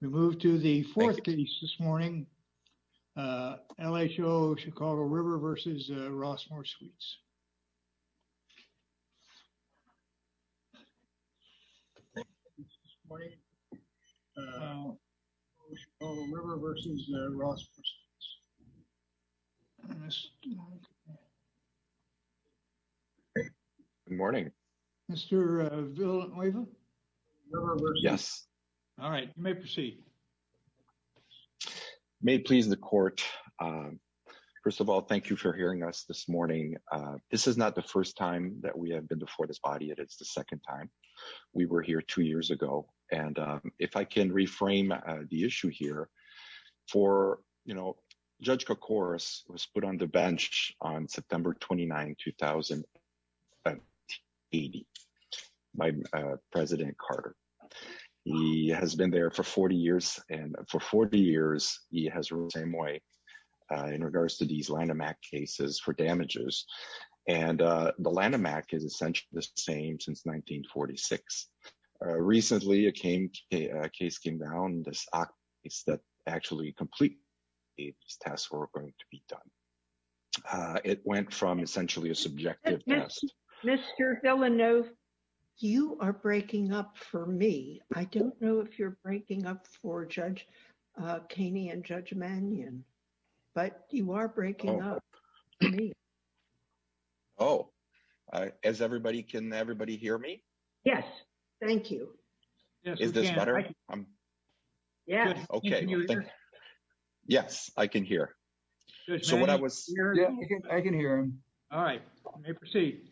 We move to the fourth case this morning, LHO Chicago River v. Rosemoor Suites. Good morning. Mr. Villanueva? Yes. All right. You may proceed. May it please the court, first of all, thank you for hearing us this morning. This is not the first time that we have been before this body, it is the second time. We were here two years ago. And if I can reframe the issue here, for, you know, Judge Kokoros was put on the bench on September 29, 2018 by President Carter. He has been there for 40 years, and for 40 years he has ruled the same way in regards to these Lanham Act cases for damages. And the Lanham Act is essentially the same since 1946. Recently, a case came down, this Act case that actually complete these tasks were going to be done. It went from essentially a subjective test. Mr. Villanueva, you are breaking up for me. I don't know if you're breaking up for Judge Kaney and Judge Mannion, but you are breaking up for me. Oh, as everybody, can everybody hear me? Yes. Thank you. Is this better? Yes. Okay. Can you hear me? Yes. I can hear. Judge Mannion? I can hear him. All right. You may proceed.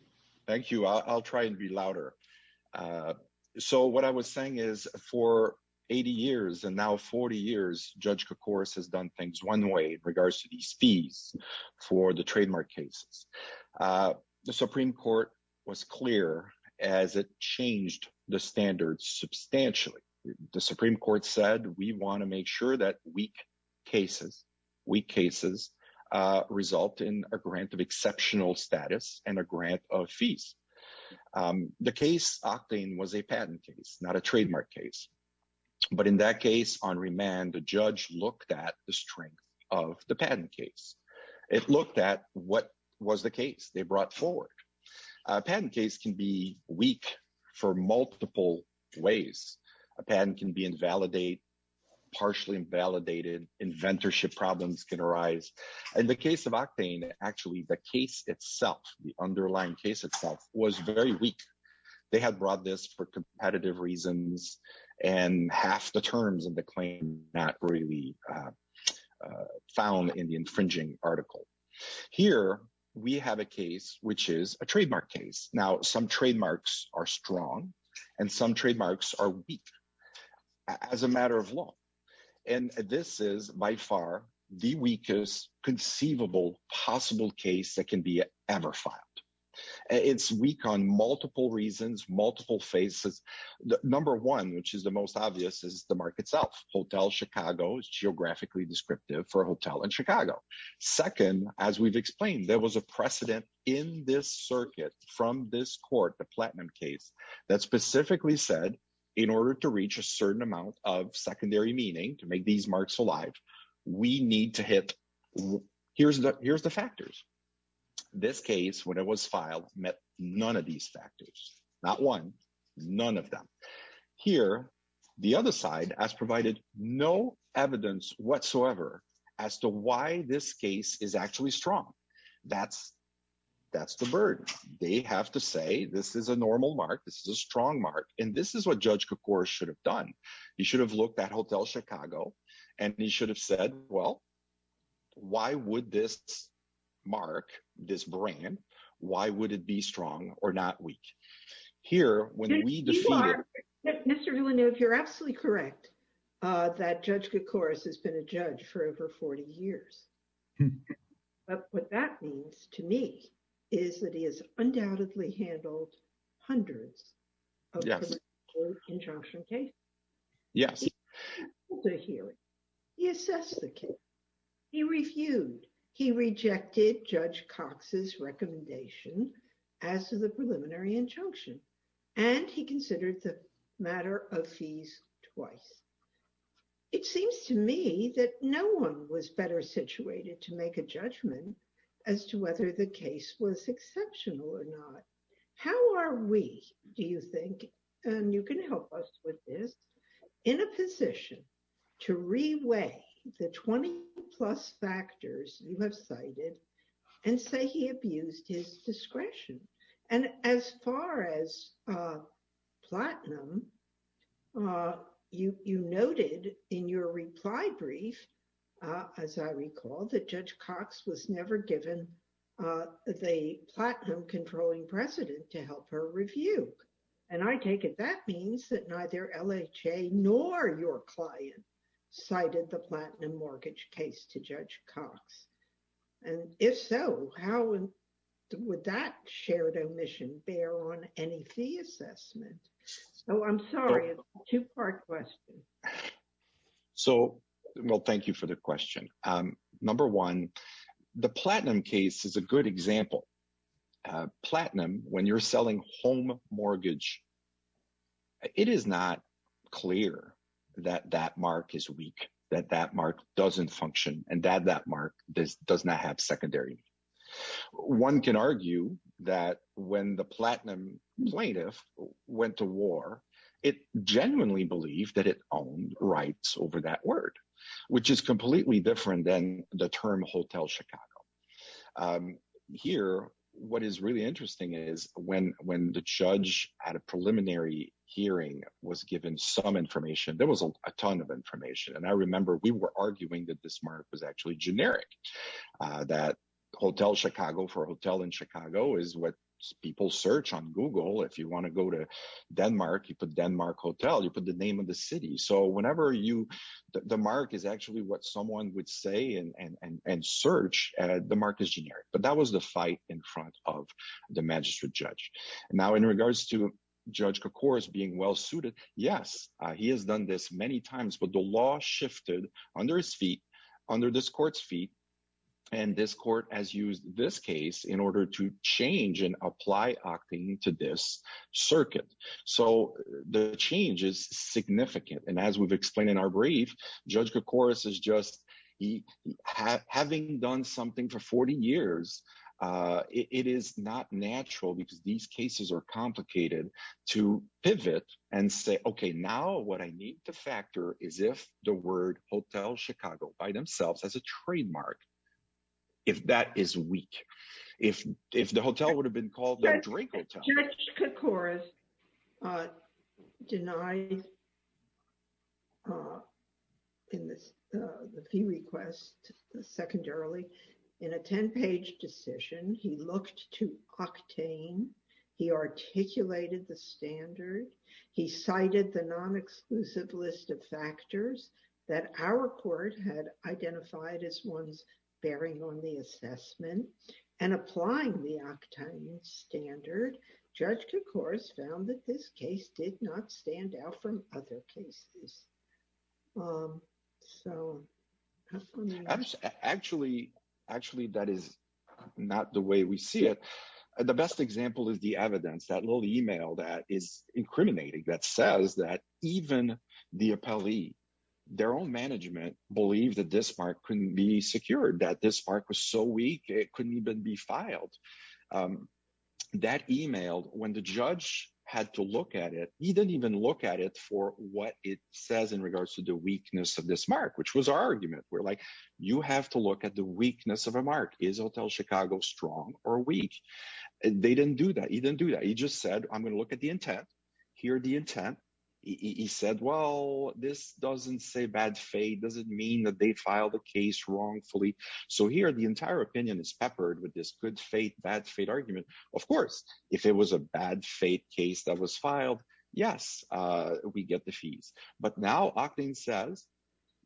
Thank you. I'll try and be louder. So what I was saying is for 80 years and now 40 years, Judge Kokoros has done things one way in regards to these fees for the trademark cases. The Supreme Court was clear as it changed the standards substantially. The Supreme Court said, we want to make sure that weak cases result in a grant of exceptional status and a grant of fees. The case Octane was a patent case, not a trademark case. But in that case on remand, the judge looked at the strength of the patent case. It looked at what was the case they brought forward. A patent case can be weak for multiple ways. A patent can be invalidated, partially invalidated, inventorship problems can arise. In the case of Octane, actually the case itself, the underlying case itself was very weak. They had brought this for competitive reasons and half the terms of the claim not really found in the infringing article. Here we have a case which is a trademark case. Now some trademarks are strong and some trademarks are weak as a matter of law. And this is by far the weakest conceivable possible case that can be ever filed. It's weak on multiple reasons, multiple faces. Number one, which is the most obvious, is the mark itself. Hotel Chicago is geographically descriptive for a hotel in Chicago. Second, as we've explained, there was a precedent in this circuit from this court, the platinum case, that specifically said in order to reach a certain amount of secondary meaning to make these marks alive, we need to hit, here's the factors. This case, when it was filed, met none of these factors. Not one, none of them. Here, the other side has provided no evidence whatsoever as to why this case is actually strong. That's the burden. They have to say, this is a normal mark, this is a strong mark, and this is what Judge Kokor should have done. He should have looked at Hotel Chicago and he should have said, well, why would this mark, this brand, why would it be strong or not weak? Here, when we defeated- You are, Mr. Villeneuve, you're absolutely correct that Judge Kokor has been a judge for over 40 years. But what that means to me is that he has undoubtedly handled hundreds of preliminary injunction cases. Yes. He assessed the case, he reviewed, he rejected Judge Cox's recommendation as to the preliminary injunction, and he considered the matter of fees twice. It seems to me that no one was better situated to make a judgment as to whether the case was exceptional or not. How are we, do you think, and you can help us with this, in a position to reweigh the 20-plus factors you have cited and say he abused his discretion? And as far as platinum, you noted in your reply brief, as I recall, that Judge Cox was never given the platinum controlling precedent to help her review. And I take it that means that neither LHA nor your client cited the platinum mortgage case to Judge Cox. And if so, how would that shared omission bear on any fee assessment? So I'm sorry, it's a two-part question. So, well, thank you for the question. Number one, the platinum case is a good example. Platinum, when you're selling home mortgage, it is not clear that that mark is weak, that that mark doesn't function, and that that mark does not have secondary. One can argue that when the platinum plaintiff went to war, it genuinely believed that it owned rights over that word, which is completely different than the term Hotel Chicago. Here, what is really interesting is when the judge at a preliminary hearing was given some information, there was a ton of information. And I remember we were arguing that this mark was actually generic, that Hotel Chicago for a hotel in Chicago is what people search on Google. If you want to go to Denmark, you put Denmark Hotel, you put the name of the city. So whenever you, the mark is actually what someone would say and search, the mark is generic. But that was the fight in front of the magistrate judge. Now, in regards to Judge Kocouras being well-suited, yes, he has done this many times, but the law shifted under his feet, under this court's feet, and this court has used this case in order to change and apply octane to this circuit. So the change is significant. And as we've explained in our brief, Judge Kocouras is just, having done something for 40 years, it is not natural because these cases are complicated to pivot and say, okay, now what I need to factor is if the word Hotel Chicago by themselves as a trademark, if that is weak, if the hotel would have been called the Drink Hotel. Judge Kocouras denied in the fee request, secondarily, in a 10-page decision, he looked to octane, he articulated the standard, he cited the non-exclusive list of factors that our court had identified as ones bearing on the assessment and applying the octane standard, Judge Kocouras found that this case did not stand out from other cases. Actually, that is not the way we see it. The best example is the evidence, that little email that is incriminating that says that even the appellee, their own management believed that this mark couldn't be secured, that this mark was so weak, it couldn't even be filed. That email, when the judge had to look at it, he didn't even look at it for what it says in regards to the weakness of this mark, which was our argument. We're like, you have to look at the weakness of a mark. Is Hotel Chicago strong or weak? They didn't do that. He didn't do that. I'm going to look at the intent. Here, the intent, he said, well, this doesn't say bad faith, doesn't mean that they filed the case wrongfully. So here, the entire opinion is peppered with this good faith, bad faith argument. Of course, if it was a bad faith case that was filed, yes, we get the fees. But now octane says,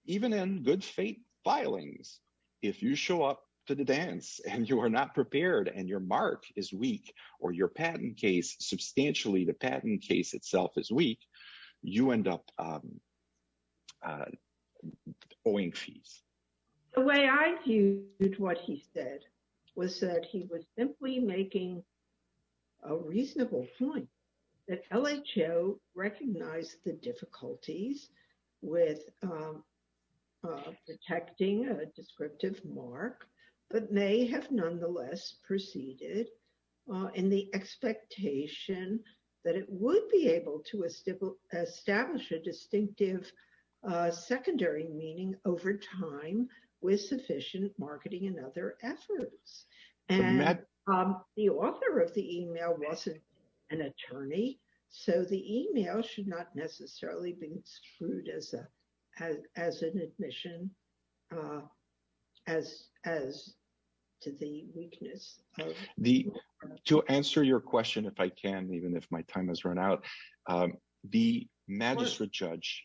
even in good faith filings, if you show up to the dance and you are not prepared and your mark is weak or your patent case, substantially the patent case itself is weak, you end up owing fees. The way I viewed what he said was that he was simply making a reasonable point that may have nonetheless proceeded in the expectation that it would be able to establish a distinctive secondary meaning over time with sufficient marketing and other efforts. And the author of the email wasn't an attorney. So the email should not necessarily be screwed as an admission as to the weakness. To answer your question, if I can, even if my time has run out. The magistrate judge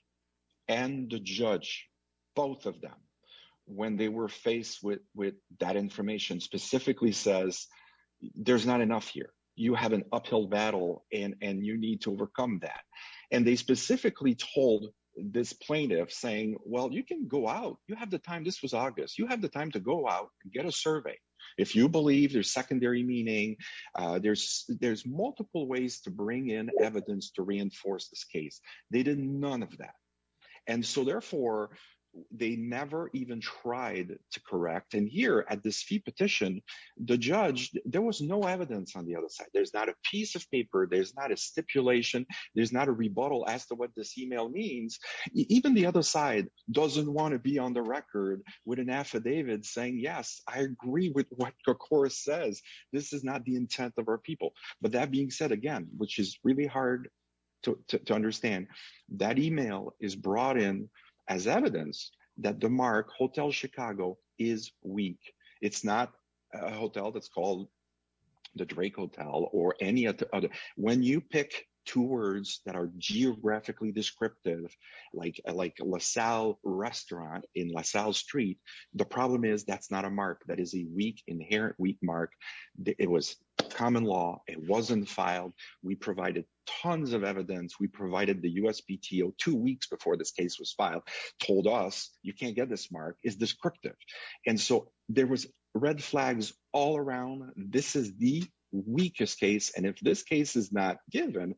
and the judge, both of them, when they were faced with that information, specifically says, there's not enough here. You have an uphill battle and you need to overcome that. And they specifically told this plaintiff saying, well, you can go out. You have the time. This was August. You have the time to go out and get a survey. If you believe there's secondary meaning, there's multiple ways to bring in evidence to reinforce this case. They did none of that. And so, therefore, they never even tried to correct. And here at this fee petition, the judge, there was no evidence on the other side. There's not a piece of paper. There's not a stipulation. There's not a rebuttal as to what this email means. Even the other side doesn't want to be on the record with an affidavit saying, yes, I agree with what the court says. This is not the intent of our people. But that being said, again, which is really hard to understand, that email is brought in as evidence that the mark, Hotel Chicago, is weak. It's not a hotel that's called the Drake Hotel or any other. When you pick two words that are geographically descriptive, like LaSalle restaurant in LaSalle Street, the problem is that's not a mark. That is a weak, inherent weak mark. It was common law. It wasn't filed. We provided tons of evidence. We provided the USPTO two weeks before this case was filed, told us you can't get this mark. It's descriptive. And so there was red flags all around. This is the weakest case. And if this case is not given,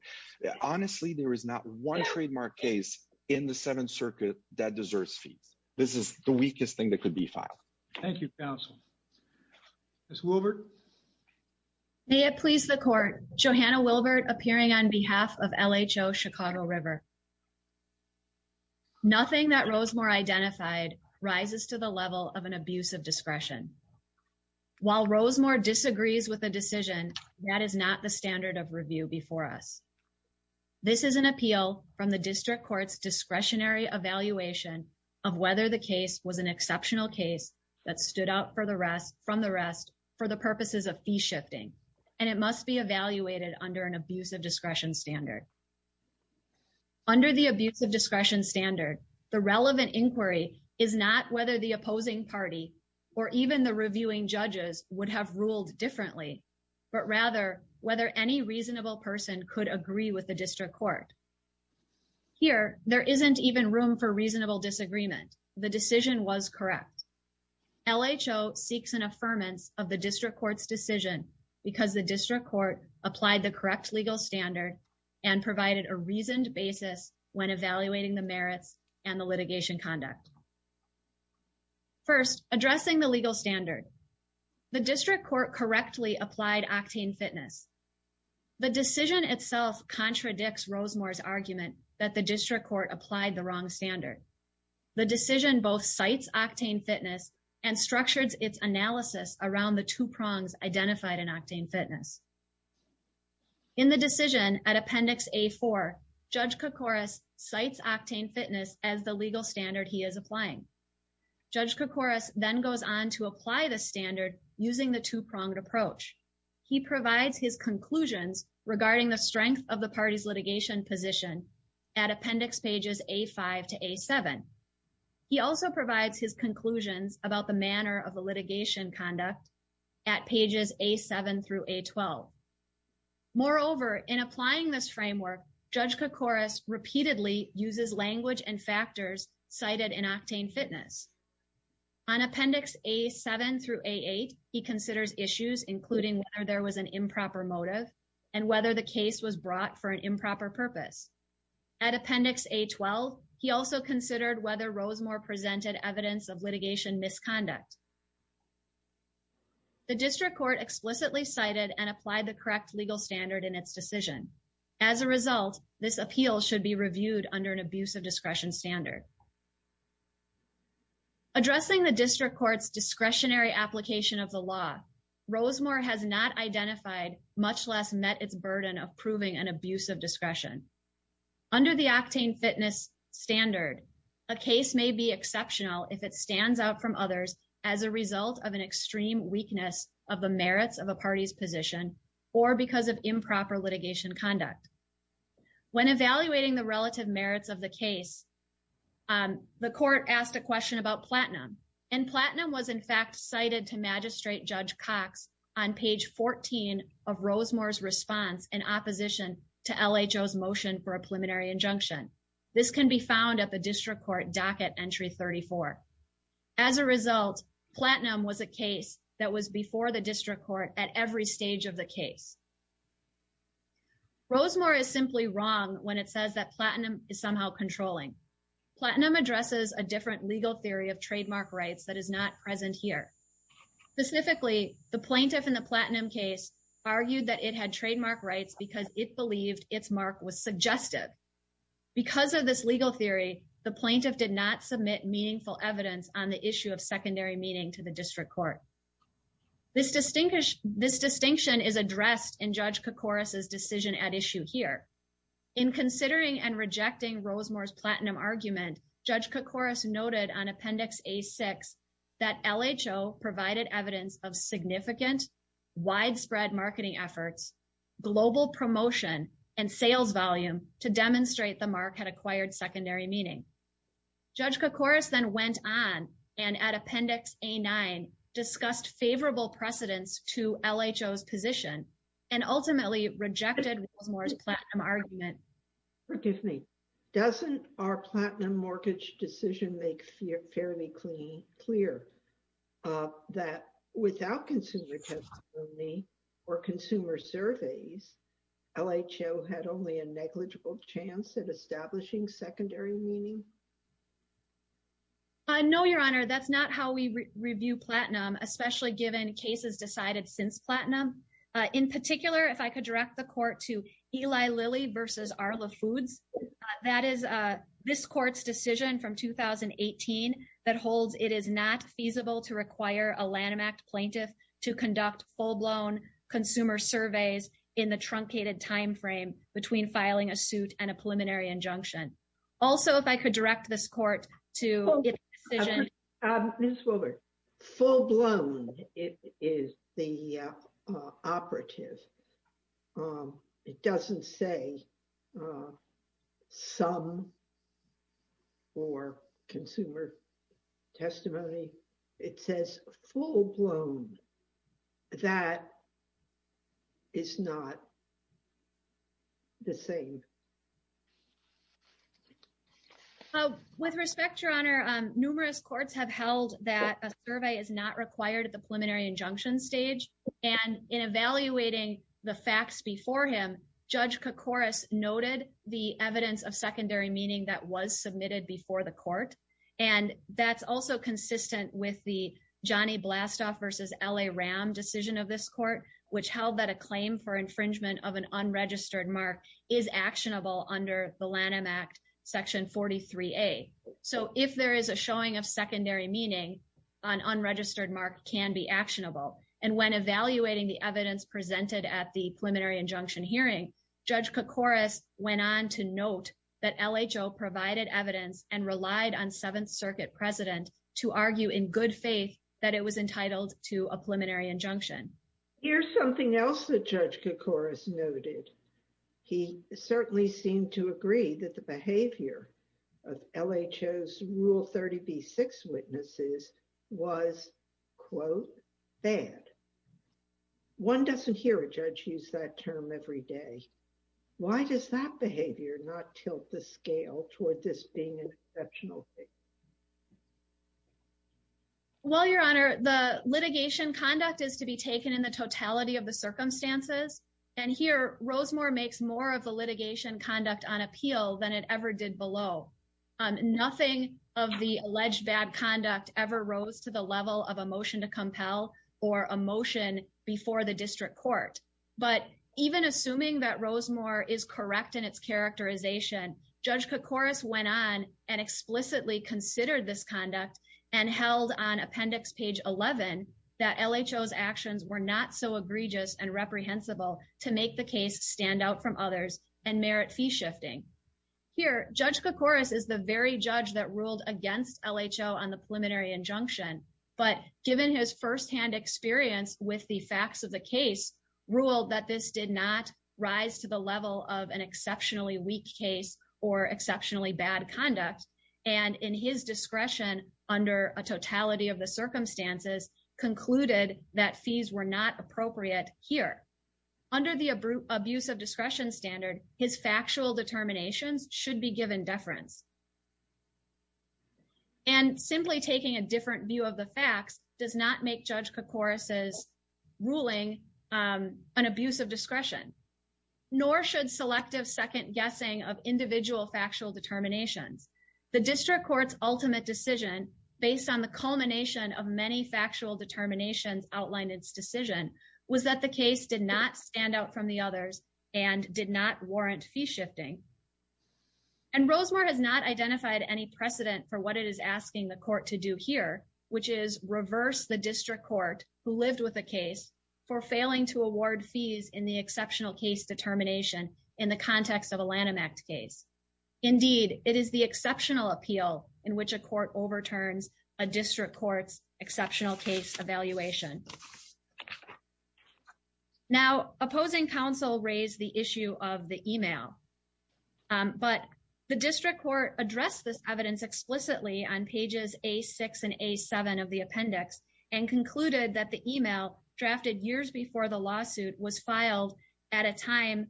honestly, there is not one trademark case in the Seventh Circuit that deserves fees. This is the weakest thing that could be filed. Thank you, counsel. Ms. Wilbert. May it please the court. Johanna Wilbert appearing on behalf of LHO Chicago River. Nothing that Rosemore identified rises to the level of an abuse of discretion. While Rosemore disagrees with the decision, that is not the standard of review before us. This is an appeal from the district court's discretionary evaluation of whether the case was an exceptional case that stood out from the rest for the purposes of fee shifting. And it must be evaluated under an abuse of discretion standard. Under the abuse of discretion standard, the relevant inquiry is not whether the opposing party or even the reviewing judges would have ruled differently, but rather whether any reasonable person could agree with the district court. Here, there isn't even room for reasonable disagreement. The decision was correct. LHO seeks an affirmance of the district court's decision because the district court applied the correct legal standard and provided a reasoned basis when evaluating the merits and the litigation conduct. First, addressing the legal standard. The district court correctly applied octane fitness. The decision itself contradicts Rosemore's argument that the district court applied the wrong standard. The decision both cites octane fitness and structures its analysis around the two prongs identified in octane fitness. In the decision at appendix A4, Judge Koukouras cites octane fitness as the legal standard he is applying. Judge Koukouras then goes on to apply the standard using the two-pronged approach. He provides his conclusions regarding the strength of the party's litigation position at appendix pages A5 to A7. He also provides his conclusions about the manner of the litigation conduct at pages A7 through A12. Moreover, in applying this framework, Judge Koukouras repeatedly uses language and factors cited in octane fitness. On appendix A7 through A8, he considers issues including whether there was an improper motive and whether the case was brought for an improper purpose. At appendix A12, he also considered whether Rosemore presented evidence of litigation misconduct. The district court explicitly cited and applied the correct legal standard in its decision. As a result, this appeal should be reviewed under an abuse of discretion standard. Addressing the district court's discretionary application of the law, Rosemore has not identified, much less met its burden of proving an abuse of discretion. Under the octane fitness standard, a case may be exceptional if it stands out from others as a result of an extreme weakness of the merits of a party's position or because of improper litigation conduct. When evaluating the relative merits of the case, the court asked a question about platinum, and platinum was in fact cited to magistrate Judge Cox on page 14 of Rosemore's response in opposition to LHO's motion for a preliminary injunction. This can be found at the district court docket entry 34. As a result, platinum was a case that was before the district court at every stage of the case. Rosemore is simply wrong when it says that platinum is somehow controlling. Platinum addresses a different legal theory of trademark rights that is not present here. Specifically, the plaintiff in the platinum case argued that it had trademark rights because it believed its mark was suggestive. Because of this legal theory, the plaintiff did not submit meaningful evidence on the issue of secondary meaning to the district court. This distinction is addressed in Judge Kacouras' decision at issue here. In considering and rejecting Rosemore's platinum argument, Judge Kacouras noted on provided evidence of significant widespread marketing efforts, global promotion, and sales volume to demonstrate the mark had acquired secondary meaning. Judge Kacouras then went on and at appendix A9 discussed favorable precedents to LHO's position and ultimately rejected Rosemore's platinum argument. Forgive me. Doesn't our platinum mortgage decision make fairly clear that without consumer testimony or consumer surveys, LHO had only a negligible chance at establishing secondary meaning? I know, Your Honor. That's not how we review platinum, especially given cases decided since platinum. In particular, if I could direct the court to Eli Lilly v. Arla Foods. That is this court's decision from 2018 that holds it is not feasible to require a Lanham Act plaintiff to conduct full-blown consumer surveys in the truncated time frame between filing a suit and a preliminary injunction. Also, if I could direct this court to its decision— operative. It doesn't say some or consumer testimony. It says full-blown. That is not the same. With respect, Your Honor, numerous courts have held that a survey is not required at the preliminary injunction stage. And in evaluating the facts before him, Judge Kokoris noted the evidence of secondary meaning that was submitted before the court. And that's also consistent with the Johnny Blastoff v. L.A. Ram decision of this court, which held that a claim for infringement of an unregistered mark is actionable under the Lanham Act, Section 43A. So if there is a showing of secondary meaning, an unregistered mark can be actionable. And when evaluating the evidence presented at the preliminary injunction hearing, Judge Kokoris went on to note that LHO provided evidence and relied on Seventh Circuit President to argue in good faith that it was entitled to a preliminary injunction. Here's something else that Judge Kokoris noted. He certainly seemed to agree that the behavior of LHO's Rule 30b-6 witnesses was, quote, bad. One doesn't hear a judge use that term every day. Why does that behavior not tilt the scale toward this being an exceptional case? Well, Your Honor, the litigation conduct is to be taken in the totality of the circumstances. And here, Rosemore makes more of the litigation conduct on appeal than it ever did below. Nothing of the alleged bad conduct ever rose to the level of a motion to compel or a motion before the district court. But even assuming that Rosemore is correct in its characterization, Judge Kokoris went on and explicitly considered this conduct and held on Appendix Page 11 that LHO's actions were not so egregious and reprehensible to make the case stand out from others and merit fee shifting. Here, Judge Kokoris is the very judge that ruled against LHO on the preliminary injunction, but given his firsthand experience with the facts of the case, ruled that this did not rise to the level of an exceptionally weak case or exceptionally bad conduct, and in his discretion under a totality of the circumstances, concluded that fees were not appropriate here. Under the abuse of discretion standard, his factual determinations should be given deference. And simply taking a different view of the facts does not make Judge Kokoris' ruling an abuse of discretion, nor should selective second-guessing of individual factual determinations. The district court's ultimate decision, based on the culmination of many factual determinations outlined in its decision, was that the case did not stand out from the others and did not warrant fee shifting. And Rosemore has not identified any precedent for what it is asking the court to do here, which is reverse the district court who lived with the case for failing to award fees in the exceptional case determination in the context of a Lanham Act case. Indeed, it is the exceptional appeal in which a court overturns a district court's exceptional case evaluation. Now, opposing counsel raised the issue of the email, but the district court addressed this evidence explicitly on pages A6 and A7 of the appendix and concluded that the email drafted years before the lawsuit was filed at a time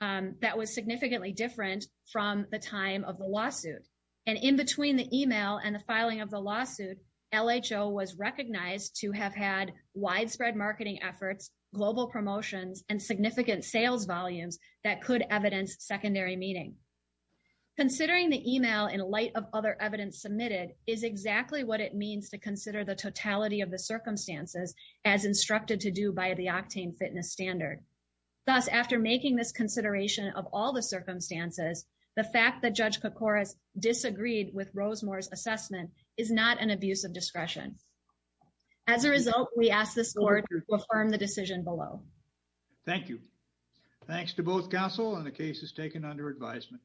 that was significantly different from the time of the lawsuit. And in between the email and the filing of the lawsuit, LHO was recognized to have had widespread marketing efforts, global promotions, and significant sales volumes that could evidence secondary meaning. Considering the email in light of other evidence submitted is exactly what it means to consider the totality of the circumstances as instructed to do by the Octane Fitness Standard. Thus, after making this consideration of all the circumstances, the fact that Judge Koukouras disagreed with Rosemore's assessment is not an abuse of discretion. As a result, we ask the court to affirm the decision below. Thank you. Thanks to both counsel and the cases taken under advisement.